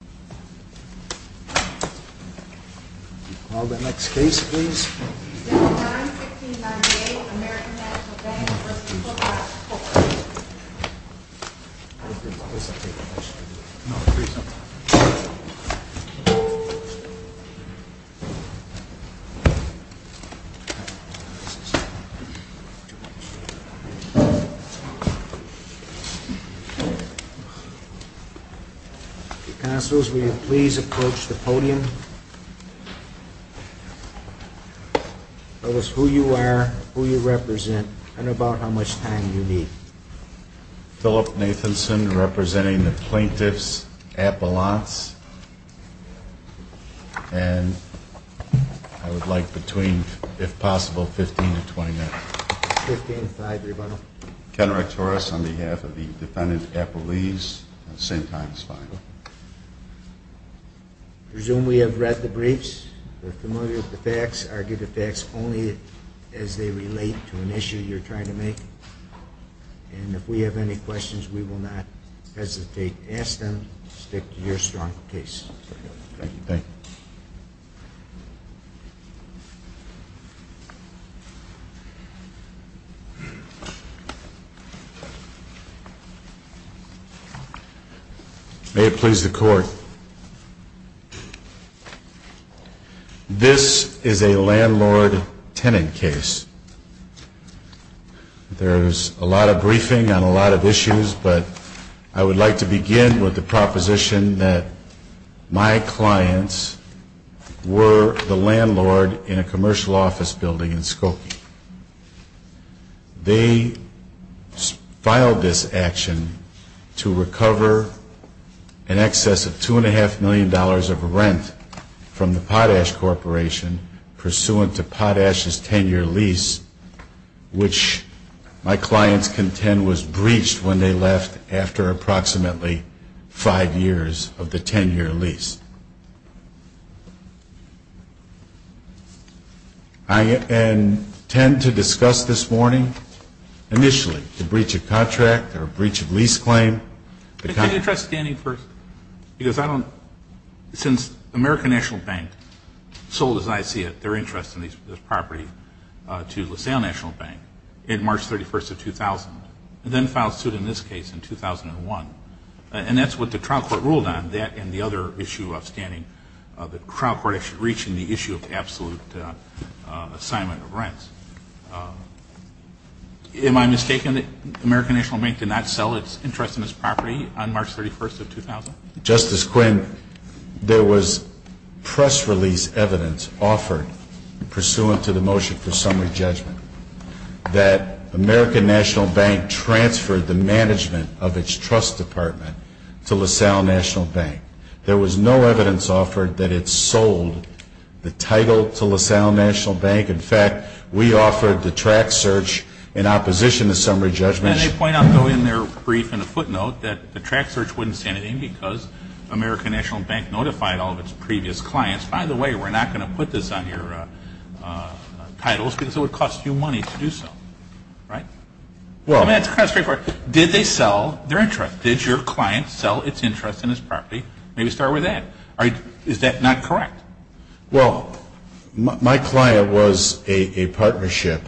Please call the next case. 91698 American National Bank v. Potash Corporation Counsel, will you please approach the podium? Tell us who you are, who you represent, and about how much time you need. Philip Nathanson, representing the plaintiff's appellants. And I would like between, if possible, 15 to 20 minutes. 15 to 20 minutes. Ken Rectoris, on behalf of the defendant's appellees. Same time as final. I presume we have read the briefs. We're familiar with the facts. Argue the facts only as they relate to an issue you're trying to make. And if we have any questions, we will not hesitate to ask them. Stick to your strong case. Thank you. May it please the Court. This is a landlord-tenant case. There's a lot of briefing on a lot of issues, but I would like to begin with the proposition that my clients were the landlord in a commercial office building in Skokie. They filed this action to recover an excess of $2.5 million of rent from the Potash Corporation, pursuant to Potash's 10-year lease, which my clients contend was breached when they left after approximately five years of the 10-year lease. I intend to discuss this morning, initially, the breach of contract or breach of lease claim. Can you try standing first? Since American National Bank sold, as I see it, their interest in this property to LaSalle National Bank in March 31st of 2000, and then filed suit in this case in 2001, and that's what the trial court ruled on, that and the other issue of standing, the trial court reaching the issue of absolute assignment of rents. Am I mistaken that American National Bank did not sell its interest in this property on March 31st of 2000? Justice Quinn, there was press release evidence offered pursuant to the motion for summary judgment that American National Bank transferred the management of its trust department to LaSalle National Bank. There was no evidence offered that it sold the title to LaSalle National Bank. In fact, we offered the track search in opposition to summary judgment. And they point out though in their brief in a footnote that the track search wouldn't stand anything because American National Bank notified all of its previous clients, by the way, we're not going to put this on your titles because it would cost you money to do so, right? Well, that's kind of straightforward. Did they sell their interest? Did your client sell its interest in this property? Maybe start with that. Is that not correct? Well, my client was a partnership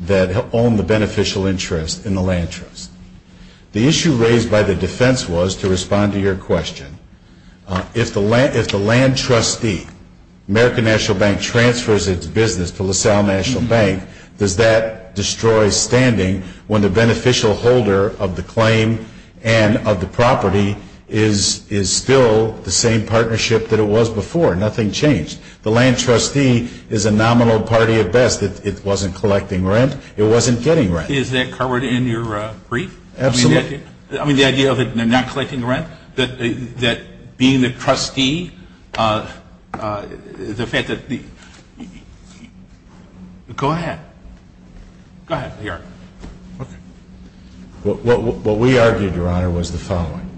that owned the beneficial interest in the land trust. The issue raised by the defense was, to respond to your question, if the land trustee, American National Bank, transfers its business to LaSalle National Bank, does that destroy standing when the beneficial holder of the claim and of the property is still the same partnership that it was before? Nothing changed. The land trustee is a nominal party at best. It wasn't collecting rent. It wasn't getting rent. Is that covered in your brief? Absolutely. I mean, the idea of it not collecting rent? That being the trustee, the fact that the – go ahead. Go ahead. What we argued, Your Honor, was the following.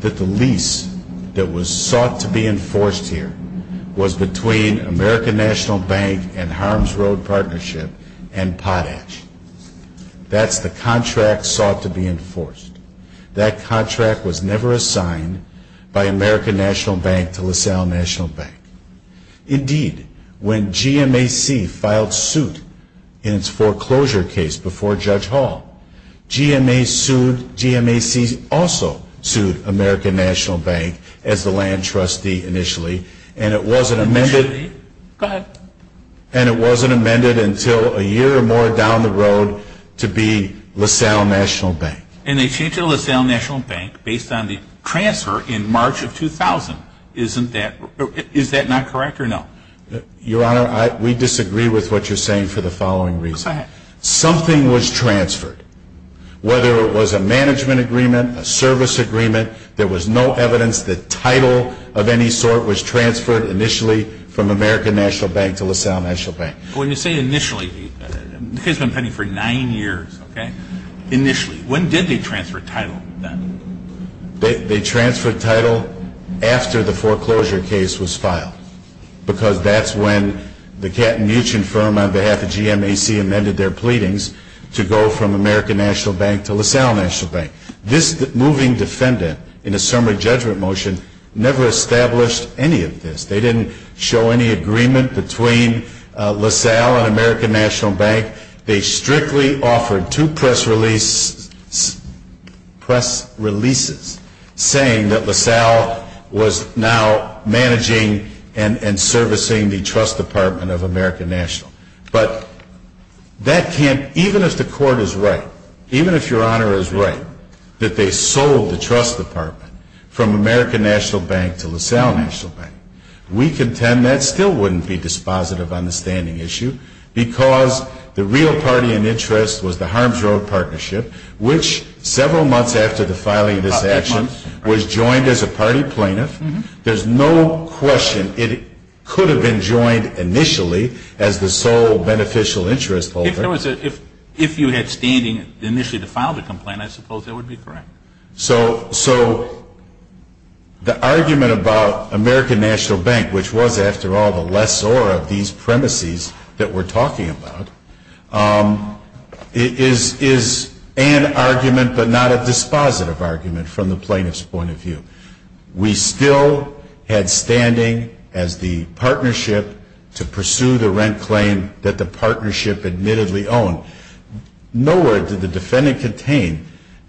That the lease that was sought to be enforced here was between American National Bank and Harms Road Partnership and Potash. That's the contract sought to be enforced. That contract was never assigned by American National Bank to LaSalle National Bank. Indeed, when GMAC filed suit in its foreclosure case before Judge Hall, GMAC also sued American National Bank as the land trustee initially, and it wasn't amended until a year or more down the road to be LaSalle National Bank. And they changed it to LaSalle National Bank based on the transfer in March of 2000. Isn't that – is that not correct or no? Your Honor, we disagree with what you're saying for the following reason. Go ahead. Something was transferred. Whether it was a management agreement, a service agreement, there was no evidence that title of any sort was transferred initially from American National Bank to LaSalle National Bank. When you say initially, the case has been pending for nine years, okay? Initially. When did they transfer title then? They transferred title after the foreclosure case was filed because that's when the Katten-Muchin firm on behalf of GMAC amended their pleadings to go from American National Bank to LaSalle National Bank. This moving defendant in a summary judgment motion never established any of this. They didn't show any agreement between LaSalle and American National Bank. They strictly offered two press releases saying that LaSalle was now managing and servicing the trust department of American National. But that can't – even if the court is right, even if Your Honor is right, that they sold the trust department from American National Bank to LaSalle National Bank, we contend that still wouldn't be dispositive understanding issue because the real party in interest was the Harms Road Partnership, which several months after the filing of this action was joined as a party plaintiff. There's no question it could have been joined initially as the sole beneficial interest holder. If you had standing initially to file the complaint, I suppose that would be correct. So the argument about American National Bank, which was, after all, a lessor of these premises that we're talking about, is an argument but not a dispositive argument from the plaintiff's point of view. We still had standing as the partnership to pursue the rent claim that the partnership admittedly owned. Nowhere did the defendant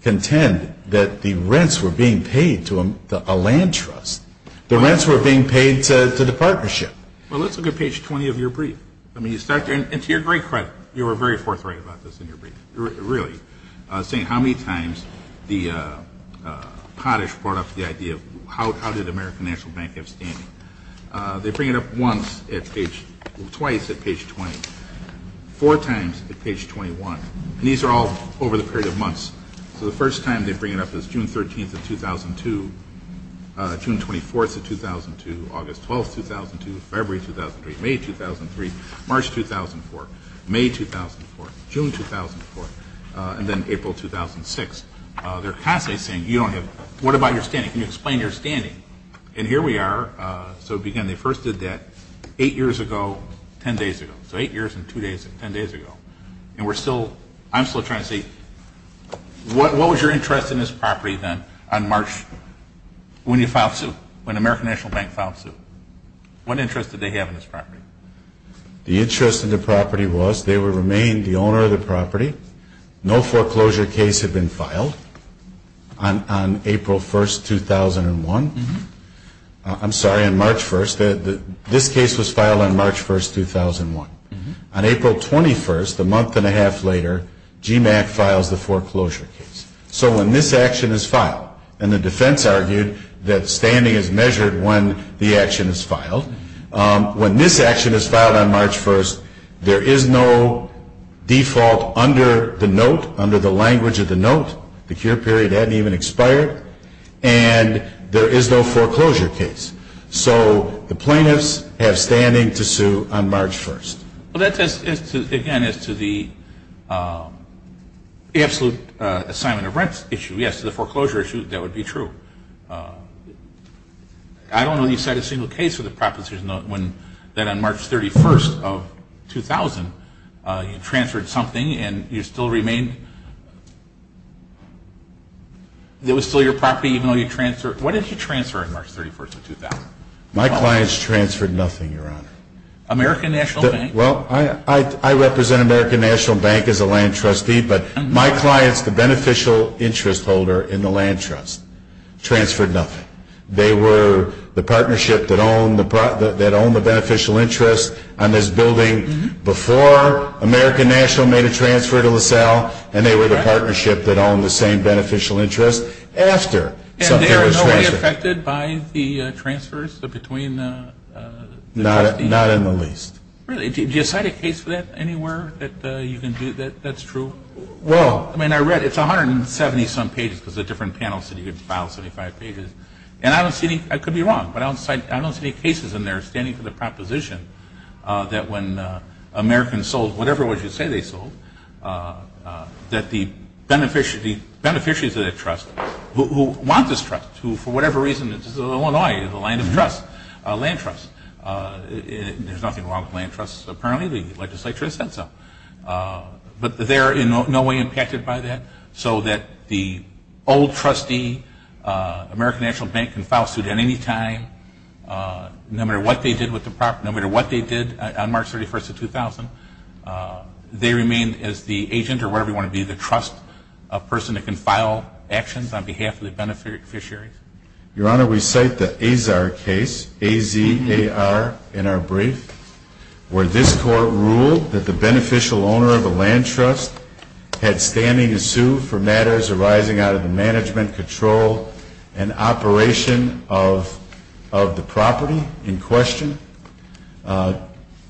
contend that the rents were being paid to a land trust. The rents were being paid to the partnership. Well, let's look at page 20 of your brief. I mean, you start there. And to your great credit, you were very forthright about this in your brief, really, saying how many times the pottish brought up the idea of how did American National Bank have standing. They bring it up once at page – twice at page 20, four times at page 21. And these are all over the period of months. So the first time they bring it up is June 13th of 2002, June 24th of 2002, August 12th, 2002, February 2003, May 2003, March 2004, May 2004, June 2004, and then April 2006. They're constantly saying you don't have – what about your standing? Can you explain your standing? And here we are. So, again, they first did that eight years ago, ten days ago. So eight years and two days, ten days ago. And we're still – I'm still trying to see. What was your interest in this property then on March – when you filed suit, when American National Bank filed suit? What interest did they have in this property? The interest in the property was they would remain the owner of the property. No foreclosure case had been filed on April 1st, 2001. I'm sorry, on March 1st. This case was filed on March 1st, 2001. On April 21st, a month and a half later, GMAC files the foreclosure case. So when this action is filed – and the defense argued that standing is measured when the action is filed. When this action is filed on March 1st, there is no default under the note, under the language of the note. The cure period hadn't even expired. And there is no foreclosure case. So the plaintiffs have standing to sue on March 1st. Well, that's, again, as to the absolute assignment of rent issue. Yes, the foreclosure issue, that would be true. I don't know that you cited a single case with a proposition that on March 31st of 2000, you transferred something and you still remained – it was still your property even though you transferred – What did you transfer on March 31st of 2000? My clients transferred nothing, Your Honor. American National Bank? Well, I represent American National Bank as a land trustee, but my clients, the beneficial interest holder in the land trust, transferred nothing. They were the partnership that owned the beneficial interest on this building before American National made a transfer to LaSalle, and they were the partnership that owned the same beneficial interest after something was transferred. And they are in no way affected by the transfers between the – Not in the least. Really? Do you cite a case for that anywhere that you can do that? That's true? Well – I mean, I read it's 170-some pages because the different panels said you could file 75 pages. And I don't see any – I could be wrong, but I don't cite – I don't see any cases in there standing for the proposition that when Americans sold whatever it was you say they sold, that the beneficiaries of that trust, who want this trust, who for whatever reason it's Illinois, the land of trust, a land trust. There's nothing wrong with land trusts apparently. The legislature has said so. But they are in no way impacted by that, so that the old trustee, American National Bank can file suit at any time, no matter what they did with the property, no matter what they did on March 31st of 2000, they remained as the agent or whatever you want to be, the trust person that can file actions on behalf of the beneficiaries. Your Honor, we cite the Azar case, A-Z-A-R, in our brief, where this court ruled that the beneficial owner of a land trust had standing to sue for matters arising out of the management, control, and operation of the property in question.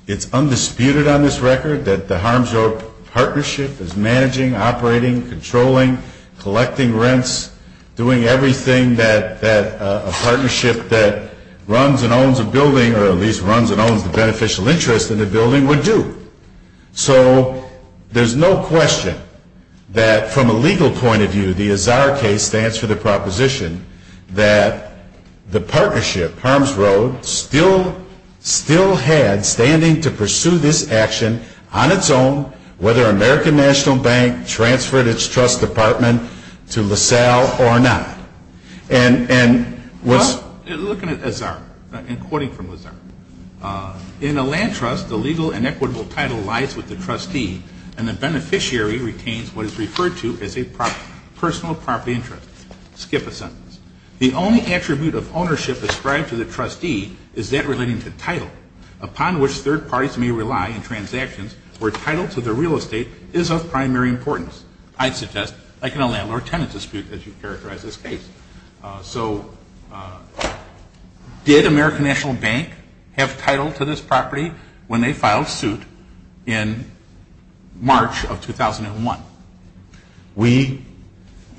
It's undisputed on this record that the HARMS-OR partnership is managing, operating, controlling, collecting rents, doing everything that a partnership that runs and owns a building, or at least runs and owns the beneficial interest in the building, would do. So there's no question that from a legal point of view, the Azar case stands for the proposition that the partnership, HARMS-ROAD, still had standing to pursue this action on its own, whether American National Bank transferred its trust department to LaSalle or not. And was... Well, looking at Azar, and quoting from Azar, in a land trust, the legal and equitable title lies with the trustee, and the beneficiary retains what is referred to as a personal property interest. Skip a sentence. The only attribute of ownership ascribed to the trustee is that relating to title, upon which third parties may rely in transactions where title to the real estate is of primary importance. I suggest, like in a landlord-tenant dispute, as you characterize this case. So did American National Bank have title to this property when they filed suit in March of 2001? We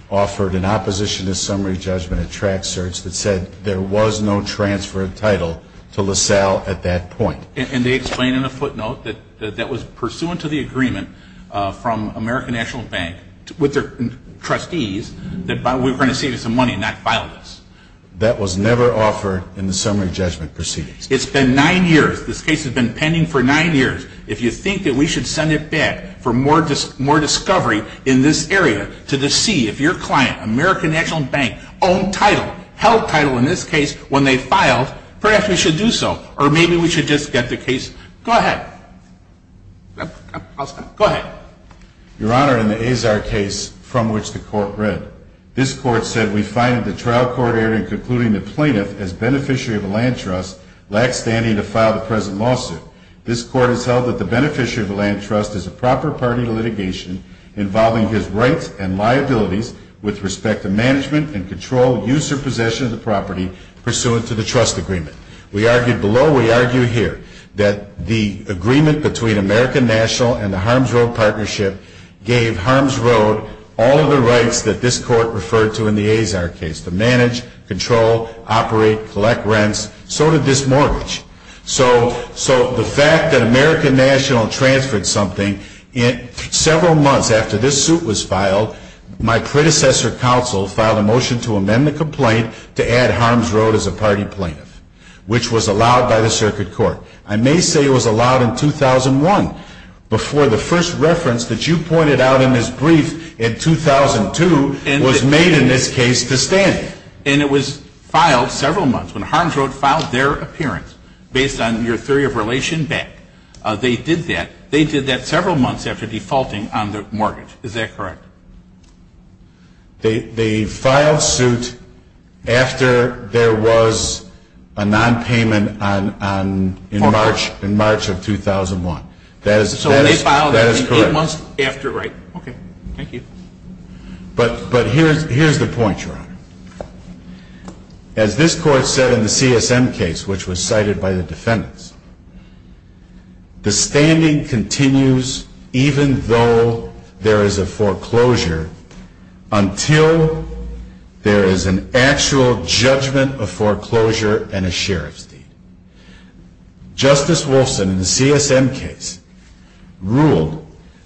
offered an opposition to summary judgment at track search that said there was no transfer of title to LaSalle at that point. And they explain in a footnote that that was pursuant to the agreement from American National Bank with their trustees that we were going to save you some money and not file this. That was never offered in the summary judgment proceedings. It's been nine years. This case has been pending for nine years. If you think that we should send it back for more discovery in this area to see if your client, American National Bank, owned title, held title in this case when they filed, perhaps we should do so. Or maybe we should just get the case. Go ahead. I'll stop. Go ahead. Your Honor, in the Azar case from which the court read, this court said we find in the trial court hearing concluding the plaintiff as beneficiary of a land trust, lax standing to file the present lawsuit. This court has held that the beneficiary of the land trust is a proper party to litigation involving his rights and liabilities with respect to management and control, use, or possession of the property pursuant to the trust agreement. We argued below. We argue here that the agreement between American National and the Harms Road Partnership gave Harms Road all of the rights that this court referred to in the Azar case, to manage, control, operate, collect rents. So did this mortgage. So the fact that American National transferred something, several months after this suit was filed, my predecessor counsel filed a motion to amend the complaint to add Harms Road as a party plaintiff, which was allowed by the circuit court. I may say it was allowed in 2001 before the first reference that you pointed out in this brief in 2002 was made in this case to stand. And it was filed several months when Harms Road filed their appearance, based on your theory of relation back. They did that. They did that several months after defaulting on the mortgage. Is that correct? They filed suit after there was a nonpayment in March of 2001. That is correct. So they filed that eight months after, right? Okay. Thank you. But here's the point, Your Honor. As this court said in the CSM case, which was cited by the defendants, the standing continues even though there is a foreclosure Justice Wolfson in the CSM case ruled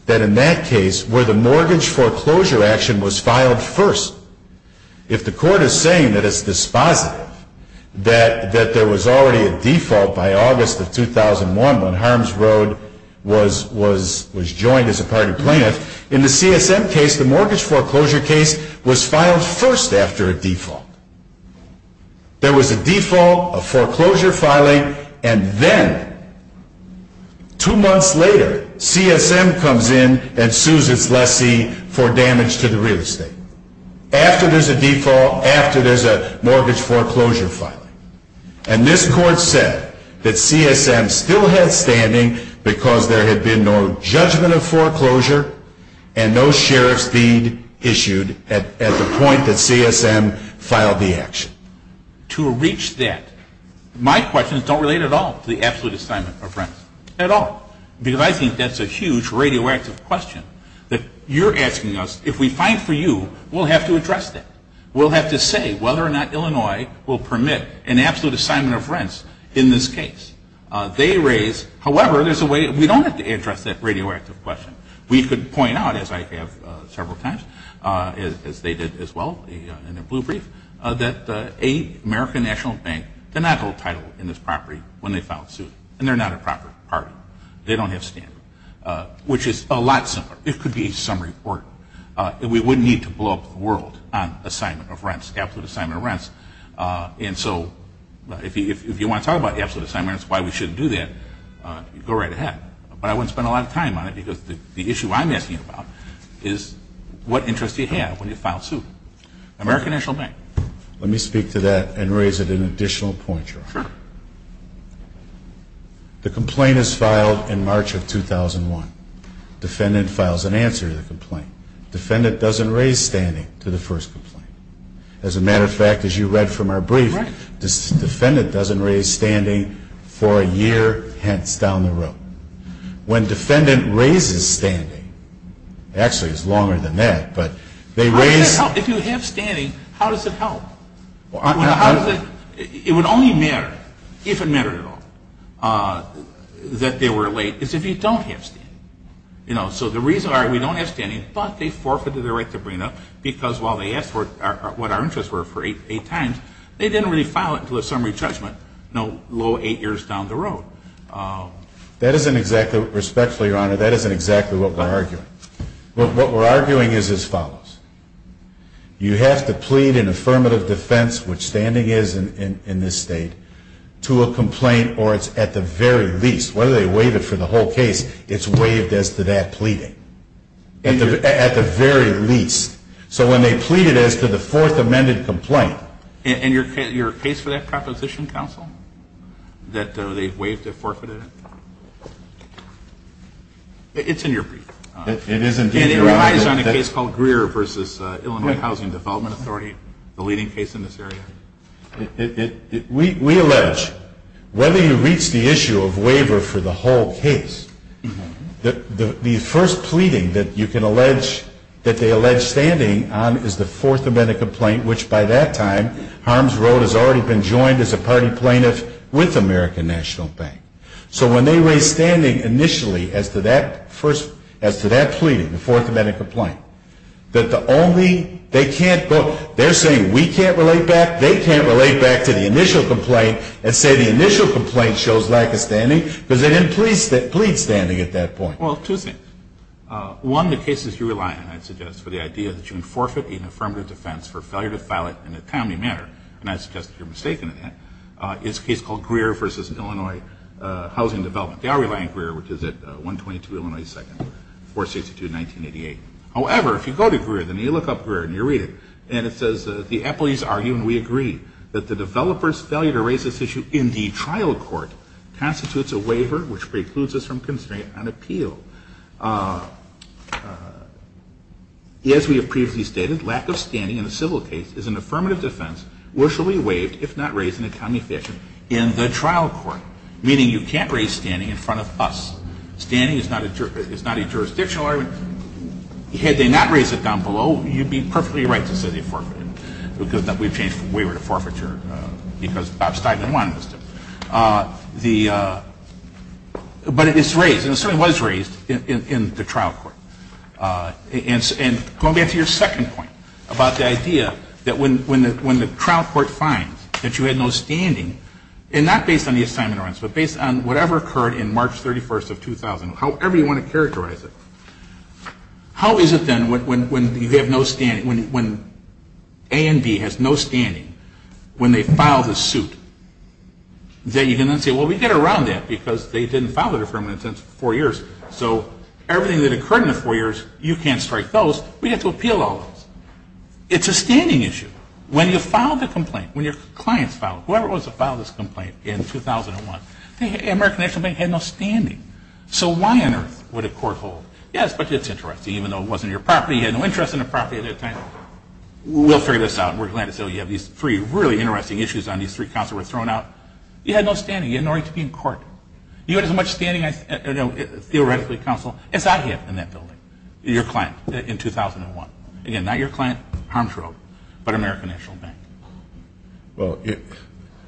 that in that case, where the mortgage foreclosure action was filed first, if the court is saying that it's dispositive that there was already a default by August of 2001 when Harms Road was joined as a party plaintiff, in the CSM case, the mortgage foreclosure case was filed first after a default. There was a default, a foreclosure filing, and then two months later, CSM comes in and sues its lessee for damage to the real estate. After there's a default, after there's a mortgage foreclosure filing. And this court said that CSM still had standing because there had been no judgment of foreclosure and no sheriff's deed issued at the point that CSM filed the action. To reach that, my questions don't relate at all to the absolute assignment of rents. At all. Because I think that's a huge radioactive question that you're asking us. If we find for you, we'll have to address that. We'll have to say whether or not Illinois will permit an absolute assignment of rents in this case. They raise, however, there's a way we don't have to address that radioactive question. We could point out, as I have several times, as they did as well in their blue brief, that the American National Bank did not hold title in this property when they filed the suit. And they're not a proper party. They don't have standing. Which is a lot simpler. It could be a summary report. We wouldn't need to blow up the world on assignment of rents, absolute assignment of rents. And so if you want to talk about the absolute assignment of rents, why we shouldn't do that, go right ahead. But I wouldn't spend a lot of time on it because the issue I'm asking about is what interest do you have when you file a suit? American National Bank. Let me speak to that and raise it an additional point. Sure. The complaint is filed in March of 2001. Defendant files an answer to the complaint. Defendant doesn't raise standing to the first complaint. As a matter of fact, as you read from our brief, defendant doesn't raise standing for a year hence down the road. When defendant raises standing, actually it's longer than that, but they raise. How does that help? If you have standing, how does it help? It would only matter, if it mattered at all, that they were late. It's if you don't have standing. So the reason why we don't have standing, but they forfeited their right to bring up, because while they asked what our interests were for eight times, they didn't really file it until a summary judgment, no low eight years down the road. That isn't exactly, respectfully, Your Honor, that isn't exactly what we're arguing. What we're arguing is as follows. You have to plead an affirmative defense, which standing is in this state, to a complaint or it's at the very least, whether they waive it for the whole case, it's waived as to that pleading. At the very least. So when they plead it as to the fourth amended complaint. And your case for that proposition, counsel, that they waived it, forfeited it? It's in your brief. It is indeed, Your Honor. And it relies on a case called Greer v. Illinois Housing Development Authority, the leading case in this area. We allege, whether you reach the issue of waiver for the whole case, the first pleading that you can allege, that they allege standing on is the fourth amended complaint, which by that time, Harms Road has already been joined as a party plaintiff with American National Bank. So when they raise standing initially as to that first, as to that pleading, the fourth amended complaint, that the only, they can't go, they're saying we can't relate back, they can't relate back to the initial complaint and say the initial complaint shows lack of standing because they didn't plead standing at that point. Well, two things. One, the cases you rely on, I'd suggest, for the idea that you can forfeit an affirmative defense for failure to file it in a timely manner, and I'd suggest that you're mistaken in that, is a case called Greer v. Illinois Housing Development. They are relying on Greer, which is at 122 Illinois 2nd, 462, 1988. However, if you go to Greer, then you look up Greer and you read it, and it says, the employees argue and we agree that the developer's failure to raise this issue in the trial court constitutes a waiver, which precludes us from considering it on appeal. As we have previously stated, lack of standing in a civil case is an affirmative defense, which will be waived if not raised in a timely fashion in the trial court, meaning you can't raise standing in front of us. Standing is not a jurisdictional argument. Had they not raised it down below, you'd be perfectly right to say they forfeited it, because we changed the waiver to forfeiture because Bob Steinman wanted us to. But it's raised, and it certainly was raised in the trial court. And going back to your second point about the idea that when the trial court finds that you had no standing, and not based on the assignment of rights, but based on whatever occurred in March 31st of 2000, however you want to characterize it, how is it then when A and B has no standing, when they file the suit, that you can then say, well, we get around that, because they didn't file their affirmative defense for four years, so everything that occurred in the four years, you can't strike those. We have to appeal all of those. It's a standing issue. When you file the complaint, when your clients file it, whoever was to file this complaint in 2001, American National Bank had no standing. So why on earth would a court hold? Yes, but it's interesting. Even though it wasn't your property, you had no interest in the property at that time. We'll figure this out. We're glad to say we have these three really interesting issues on these three counts that were thrown out. You had no standing. You had no right to be in court. You had as much standing, theoretically, counsel, as I had in that building, your client, in 2001. Again, not your client, Harms Road, but American National Bank. Well,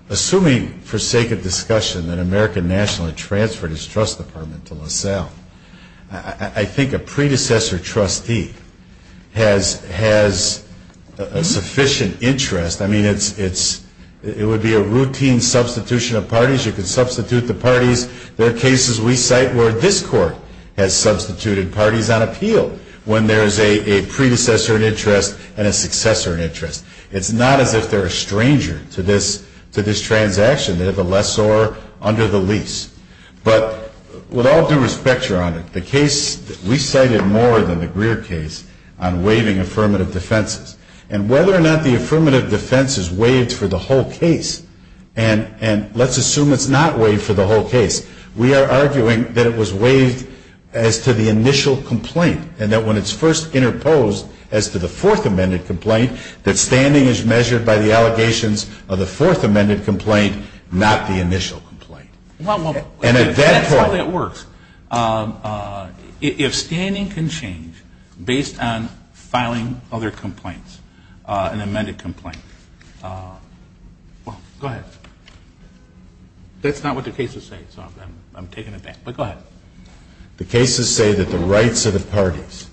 assuming for sake of discussion that American National had transferred its trust department to LaSalle, I think a predecessor trustee has a sufficient interest. I mean, it would be a routine substitution of parties. You could substitute the parties. There are cases we cite where this court has substituted parties on appeal when there is a predecessor in interest and a successor in interest. It's not as if they're a stranger to this transaction. They're the lessor under the lease. But with all due respect, Your Honor, the case that we cited more than the Greer case on waiving affirmative defenses, and whether or not the affirmative defense is waived for the whole case, and let's assume it's not waived for the whole case, we are arguing that it was waived as to the initial complaint and that when it's first interposed as to the fourth amended complaint, that standing is measured by the allegations of the fourth amended complaint, not the initial complaint. Well, that's how that works. If standing can change based on filing other complaints, an amended complaint, well, go ahead. That's not what the cases say, so I'm taking it back, but go ahead. The cases say that the rights of the parties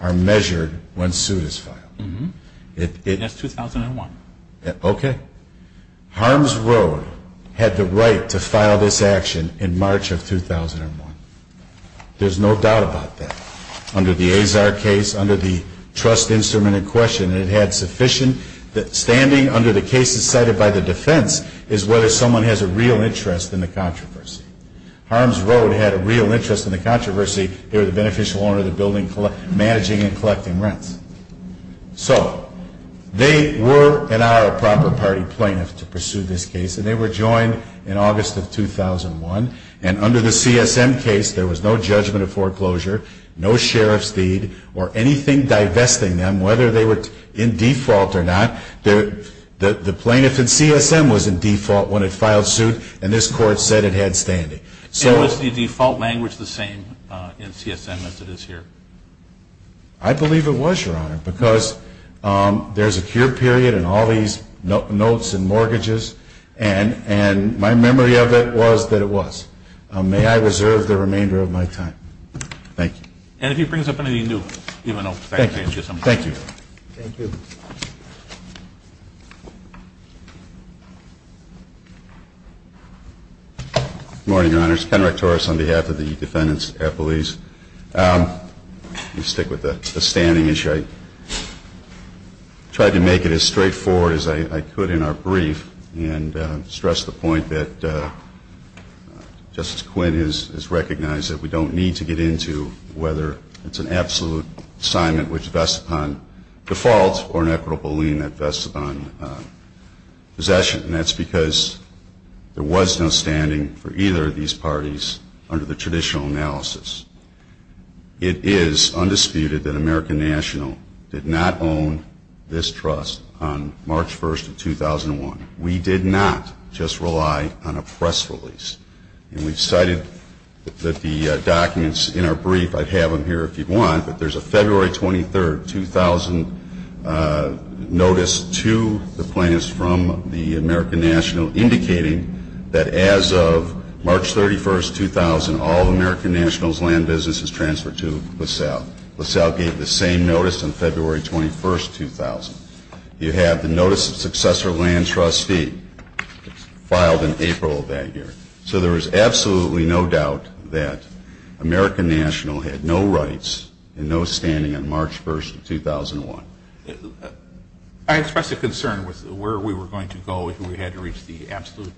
are measured when suit is filed. And that's 2001. Okay. Harms Road had the right to file this action in March of 2001. There's no doubt about that. Under the Azar case, under the trust instrument in question, it had sufficient. Standing under the cases cited by the defense is whether someone has a real interest in the controversy. Harms Road had a real interest in the controversy. They were the beneficial owner of the building managing and collecting rents. So they were, and are, a proper party plaintiff to pursue this case, and they were joined in August of 2001. And under the CSM case, there was no judgment of foreclosure, no sheriff's deed, or anything divesting them, whether they were in default or not. The plaintiff in CSM was in default when it filed suit, and this Court said it had standing. And was the default language the same in CSM as it is here? I believe it was, Your Honor, because there's a cure period in all these notes and mortgages, and my memory of it was that it was. May I reserve the remainder of my time? Thank you. And if he brings up anything new, even though I can't hear something. Thank you. Thank you. Good morning, Your Honors. Ken Rectoris on behalf of the defendants' appellees. Let me stick with the standing issue. I tried to make it as straightforward as I could in our brief and stress the point that Justice Quinn has recognized that we don't need to get into whether it's an absolute assignment which vests upon default or an equitable lien that vests upon possession. And that's because there was no standing for either of these parties under the traditional analysis. It is undisputed that American National did not own this trust on March 1st of 2001. We did not just rely on a press release. And we've cited that the documents in our brief, I'd have them here if you'd want, but there's a February 23rd 2000 notice to the plaintiffs from the American National indicating that as of March 31st, 2000, all American National's land business is transferred to LaSalle. LaSalle gave the same notice on February 21st, 2000. You have the notice of successor land trustee filed in April of that year. So there is absolutely no doubt that American National had no rights and no standing on March 1st of 2001. I expressed a concern with where we were going to go if we had to reach the absolute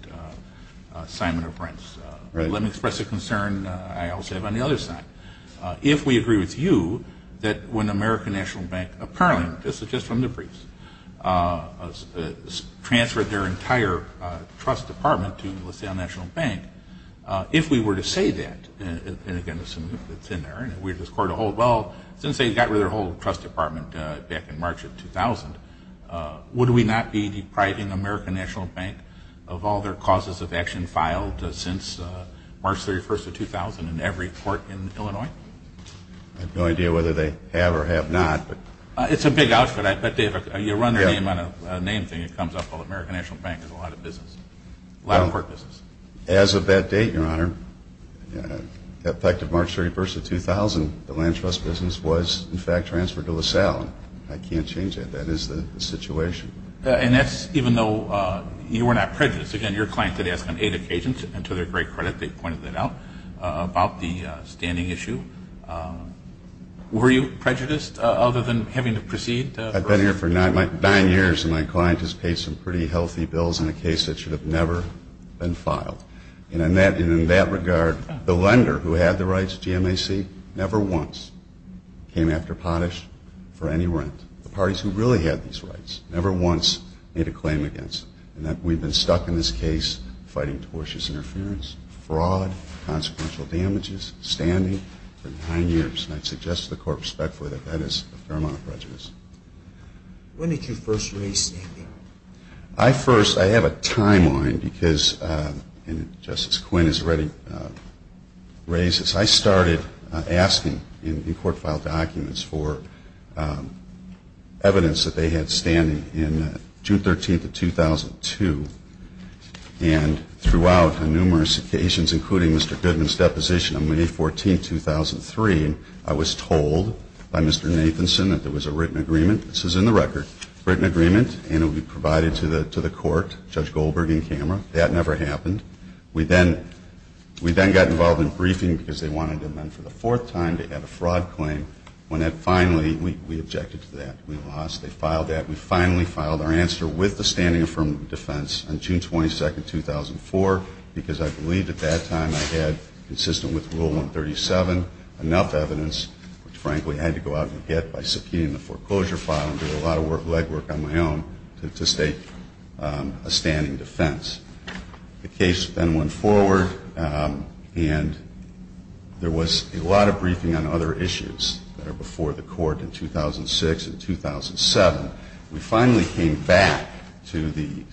assignment of rents. Let me express a concern I also have on the other side. If we agree with you that when American National Bank, apparently, this is just from the briefs, transferred their entire trust department to LaSalle National Bank, if we were to say that, and again, it's in there, and we're just going to hold, well, since they got rid of their whole trust department back in March of 2000, would we not be depriving American National Bank of all their causes of action filed since March 31st of 2000 in every court in Illinois? I have no idea whether they have or have not. It's a big outfit. I bet, David, you run their name on a name thing that comes up called American National Bank. There's a lot of business, a lot of court business. As of that date, Your Honor, effective March 31st of 2000, the land trust business was, in fact, transferred to LaSalle. I can't change that. That is the situation. And that's even though you were not prejudiced. Again, your client did ask on eight occasions, and to their great credit they pointed that out, about the standing issue. Were you prejudiced other than having to proceed? I've been here for nine years, and my client has paid some pretty healthy bills in a case that should have never been filed. And in that regard, the lender who had the rights, GMAC, never once came after Potash for any rent. The parties who really had these rights never once made a claim against them. And we've been stuck in this case fighting tortious interference, fraud, consequential damages, standing for nine years. And I'd suggest to the court respectfully that that is a fair amount of prejudice. When did you first raise standing? I first, I have a timeline because, and Justice Quinn has already raised this, I started asking in court file documents for evidence that they had standing in June 13th of 2002. And throughout on numerous occasions, including Mr. Goodman's deposition on May 14th, 2003, I was told by Mr. Nathanson that there was a written agreement. This is in the record. Written agreement, and it would be provided to the court, Judge Goldberg in camera. That never happened. We then got involved in briefing because they wanted to amend for the fourth time to add a fraud claim. When that finally, we objected to that. We lost. They filed that. We finally filed our answer with the standing affirmative defense on June 22nd, 2004, because I believed at that time I had, consistent with Rule 137, enough evidence, which, frankly, I had to go out and get by subpoenaing the foreclosure file and doing a lot of legwork on my own to state a standing defense. The case then went forward. And there was a lot of briefing on other issues that are before the court in 2006 and 2007. We finally came back to the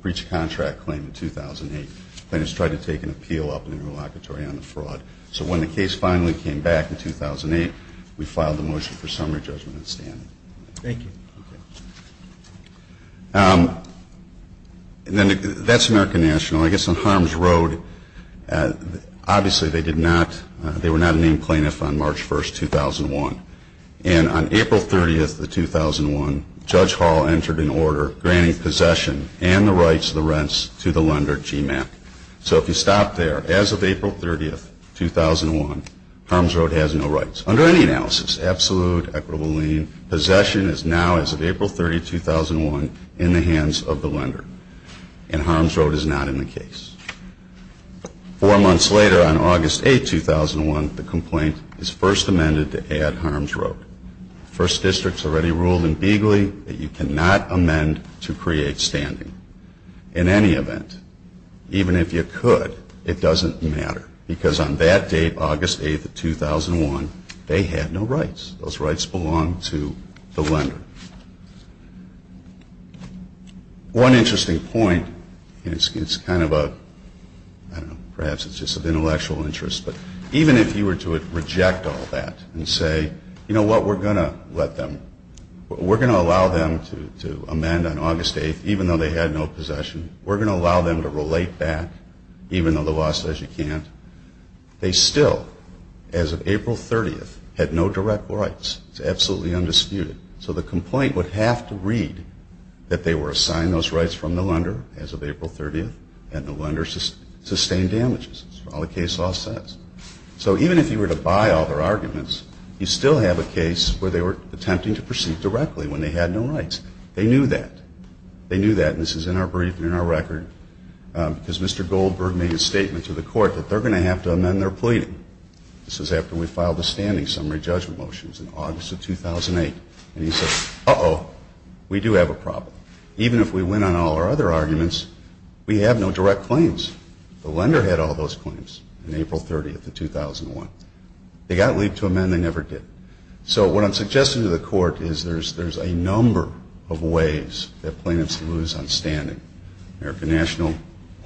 breach of contract claim in 2008. Plaintiffs tried to take an appeal up in the relocatory on the fraud. So when the case finally came back in 2008, we filed the motion for summary judgment in standing. Thank you. And then that's American National. I guess on Harms Road, obviously they did not, they were not a named plaintiff on March 1st, 2001. And on April 30th of 2001, Judge Hall entered an order granting possession and the rights of the rents to the lender, GMAP. So if you stop there, as of April 30th, 2001, Harms Road has no rights. Under any analysis, absolute, equitable lien, possession is now, as of April 30th, 2001, in the hands of the lender. And Harms Road is not in the case. Four months later, on August 8th, 2001, the complaint is first amended to add Harms Road. The first district's already ruled in Beegley that you cannot amend to create standing. In any event, even if you could, it doesn't matter. Because on that date, August 8th, 2001, they had no rights. Those rights belonged to the lender. One interesting point, and it's kind of a, I don't know, perhaps it's just of intellectual interest, but even if you were to reject all that and say, you know what, we're going to let them, we're going to allow them to amend on August 8th, even though they had no possession, we're going to allow them to relate back, even though the law says you can't, they still, as of April 30th, had no direct rights. It's absolutely undisputed. So the complaint would have to read that they were assigned those rights from the lender, as of April 30th, and the lender sustained damages. That's all the case law says. So even if you were to buy all their arguments, you still have a case where they were attempting to proceed directly when they had no rights. They knew that. They knew that, and this is in our brief and in our record, because Mr. Goldberg made a statement to the court that they're going to have to amend their pleading. This was after we filed the standing summary judgment motions in August of 2008. And he said, uh-oh, we do have a problem. Even if we win on all our other arguments, we have no direct claims. The lender had all those claims on April 30th of 2001. They got leave to amend. They never did. So what I'm suggesting to the court is there's a number of ways that plaintiffs lose on standing. American National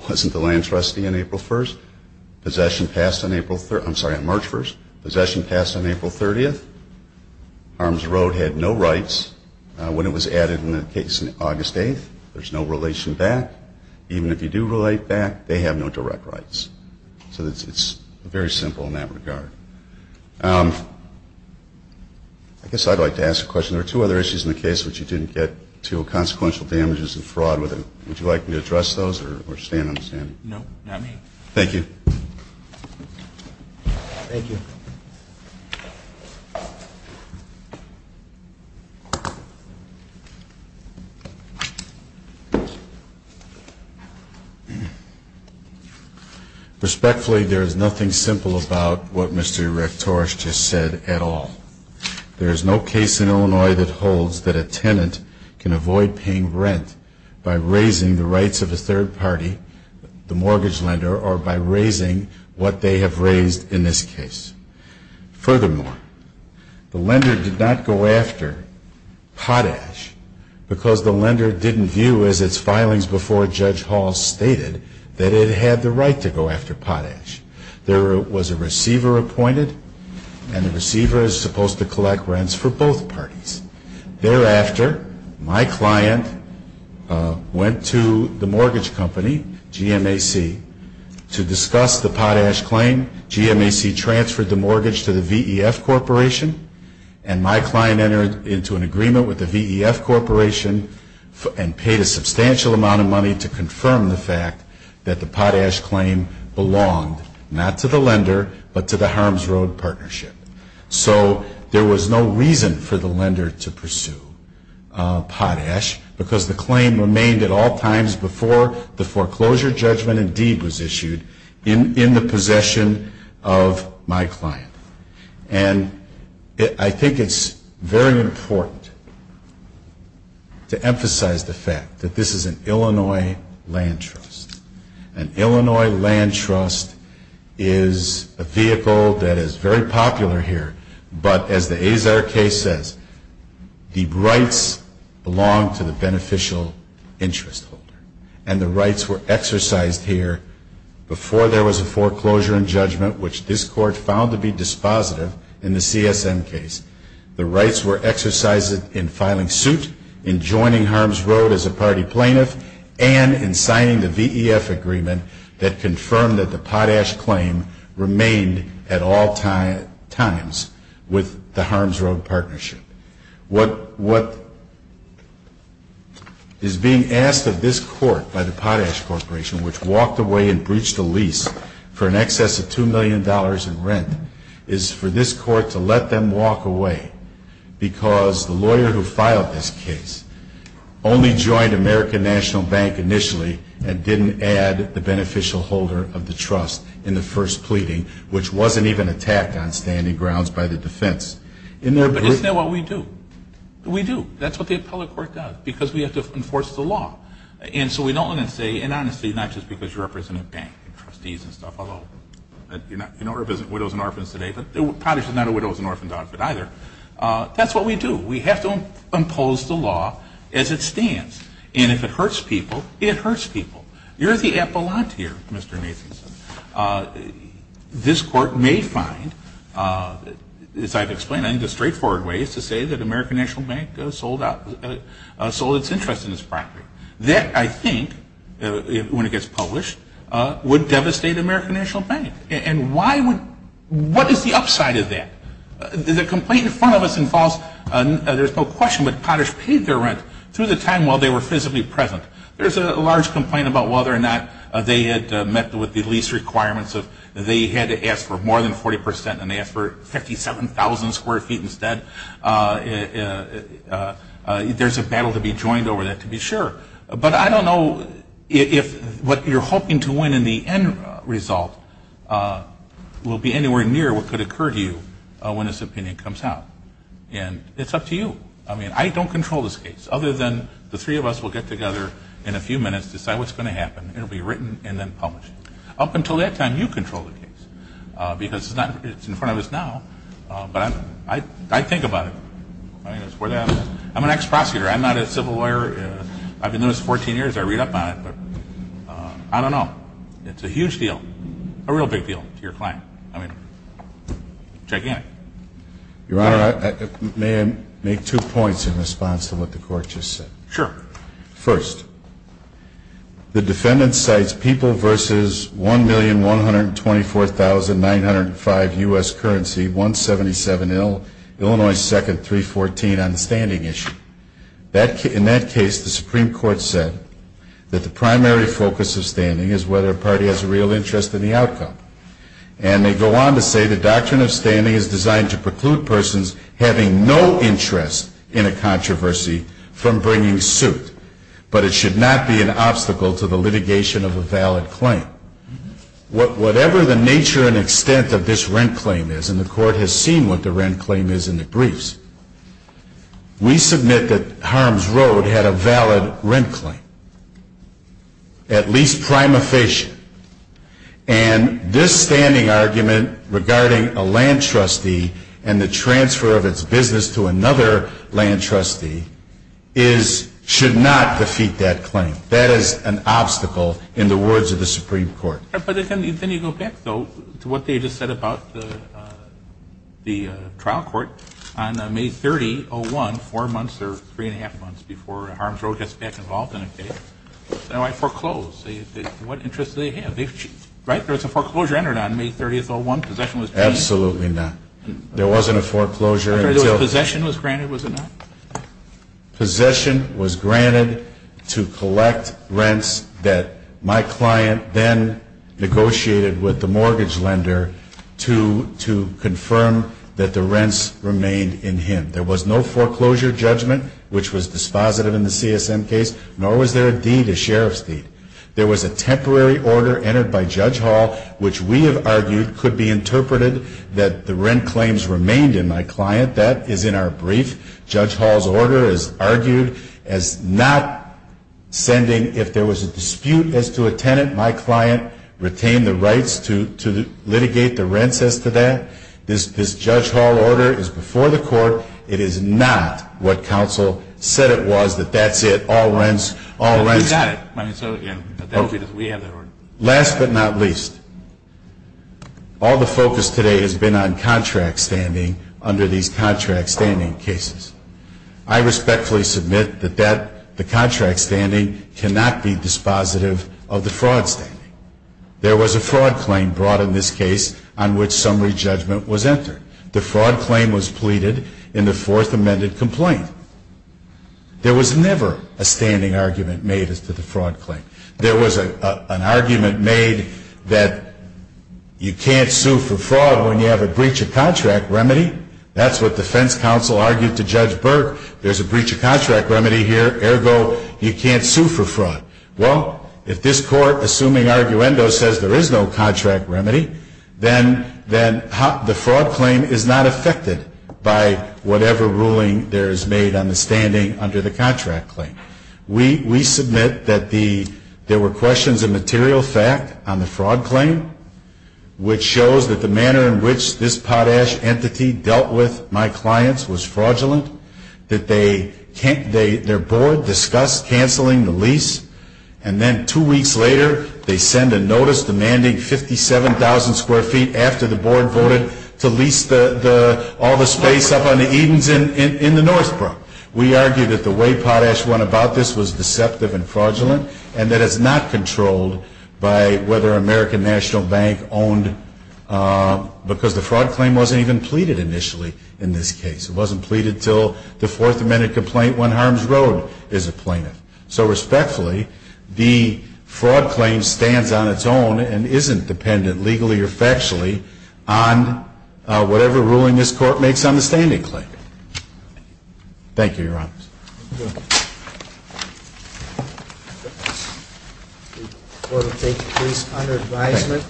wasn't the land trustee on April 1st. Possession passed on April 30th. I'm sorry, on March 1st. Possession passed on April 30th. Harms Road had no rights. When it was added in the case on August 8th, there's no relation back. Even if you do relate back, they have no direct rights. So it's very simple in that regard. I guess I'd like to ask a question. There are two other issues in the case which you didn't get to, consequential damages and fraud. Would you like me to address those or stand on the standing? No, not me. Thank you. Thank you. Respectfully, there is nothing simple about what Mr. Erectoras just said at all. There is no case in Illinois that holds that a tenant can avoid paying rent by raising the rights of a third party, the mortgage lender, or by raising what they have raised in this case. Furthermore, the lender did not go after Potash because the lender didn't view, as its filings before Judge Hall stated, that it had the right to go after Potash. There was a receiver appointed, and the receiver is supposed to collect rents for both parties. Thereafter, my client went to the mortgage company, GMAC, to discuss the Potash claim. GMAC transferred the mortgage to the VEF Corporation, and my client entered into an agreement with the VEF Corporation and paid a substantial amount of money to confirm the fact that the Potash claim belonged not to the lender, but to the Harms Road Partnership. So there was no reason for the lender to pursue Potash because the claim remained at all times before the foreclosure judgment and deed was issued in the possession of my client. And I think it's very important to emphasize the fact that this is an Illinois land trust. An Illinois land trust is a vehicle that is very popular here, but as the Azar case says, the rights belong to the beneficial interest holder. And the rights were exercised here before there was a foreclosure and judgment, which this Court found to be dispositive in the CSM case. The rights were exercised in filing suit, in joining Harms Road as a party plaintiff, and in signing the VEF agreement that confirmed that the Potash claim remained at all times with the Harms Road Partnership. What is being asked of this Court by the Potash Corporation, which walked away and breached a lease for an excess of $2 million in rent, is for this Court to let them walk away because the lawyer who filed this case only joined American National Bank initially and didn't add the beneficial holder of the trust in the first pleading, which wasn't even attacked on standing grounds by the defense. Isn't that what we do? We do. That's what the appellate court does because we have to enforce the law. And so we don't want to say, and honestly, not just because you represent a bank and trustees and stuff, although you don't represent widows and orphans today, Potash is not a widows and orphans outfit either. That's what we do. We have to impose the law as it stands. And if it hurts people, it hurts people. You're the appellant here, Mr. Nathanson. This Court may find, as I've explained, I think the straightforward way is to say that American National Bank sold its interest in this property. That, I think, when it gets published, would devastate American National Bank. And what is the upside of that? The complaint in front of us involves, there's no question, but Potash paid their rent through the time while they were physically present. There's a large complaint about whether or not they had met with the lease requirements of they had to ask for more than 40 percent and they asked for 57,000 square feet instead. There's a battle to be joined over that, to be sure. But I don't know if what you're hoping to win in the end result will be anywhere near what could occur to you when this opinion comes out. And it's up to you. I mean, I don't control this case other than the three of us will get together in a few minutes, decide what's going to happen. It will be written and then published. Up until that time, you control the case because it's in front of us now. But I think about it. I'm an ex-prosecutor. I'm not a civil lawyer. I've been doing this 14 years. I read up on it. I don't know. It's a huge deal, a real big deal to your client. I mean, check in. Your Honor, may I make two points in response to what the Court just said? Sure. First, the defendant cites People v. 1,124,905 U.S. Currency, 177 Illinois 2nd 314 on the standing issue. In that case, the Supreme Court said that the primary focus of standing is whether a party has a real interest in the outcome. And they go on to say the doctrine of standing is designed to preclude persons having no interest in a controversy from bringing suit. But it should not be an obstacle to the litigation of a valid claim. Whatever the nature and extent of this rent claim is, and the Court has seen what the rent claim is in the briefs, we submit that Harms Road had a valid rent claim, at least prima facie. And this standing argument regarding a land trustee and the transfer of its business to another land trustee should not defeat that claim. That is an obstacle in the words of the Supreme Court. But then you go back, though, to what they just said about the trial court. On May 30, 2001, four months or three and a half months before Harms Road gets back involved in a case, they foreclosed. What interest did they have? Right? There was a foreclosure entered on May 30, 2001. Possession was granted. Absolutely not. There wasn't a foreclosure. Possession was granted, was it not? with the mortgage lender to confirm that the rents remained in him. There was no foreclosure judgment, which was dispositive in the CSM case, nor was there a deed, a sheriff's deed. There was a temporary order entered by Judge Hall, which we have argued could be interpreted that the rent claims remained in my client. That is in our brief. Judge Hall's order is argued as not sending, if there was a dispute as to a tenant, my client retained the rights to litigate the rents as to that. This Judge Hall order is before the court. It is not what counsel said it was, that that's it, all rents, all rents. But we've got it. I mean, so, yeah, we have that order. Last but not least, all the focus today has been on contract standing under these contract standing cases. I respectfully submit that the contract standing cannot be dispositive of the fraud standing. There was a fraud claim brought in this case on which summary judgment was entered. The fraud claim was pleaded in the fourth amended complaint. There was never a standing argument made as to the fraud claim. There was an argument made that you can't sue for fraud when you have a breach of contract remedy. That's what defense counsel argued to Judge Burke. There's a breach of contract remedy here. Ergo, you can't sue for fraud. Well, if this court, assuming arguendo, says there is no contract remedy, then the fraud claim is not affected by whatever ruling there is made on the standing under the contract claim. We submit that there were questions of material fact on the fraud claim, which shows that the manner in which this potash entity dealt with my clients was fraudulent, that their board discussed canceling the lease, and then two weeks later they send a notice demanding 57,000 square feet after the board voted to lease all the space up on the Edens in the North Brook. We argue that the way potash went about this was deceptive and fraudulent and that it's not controlled by whether American National Bank owned, because the fraud claim wasn't even pleaded initially in this case. It wasn't pleaded until the Fourth Amendment complaint when Harms Road is a plaintiff. So respectfully, the fraud claim stands on its own and isn't dependent legally or factually on whatever ruling this court makes on the standing claim. Thank you, Your Honor. The court will take the case under advisement.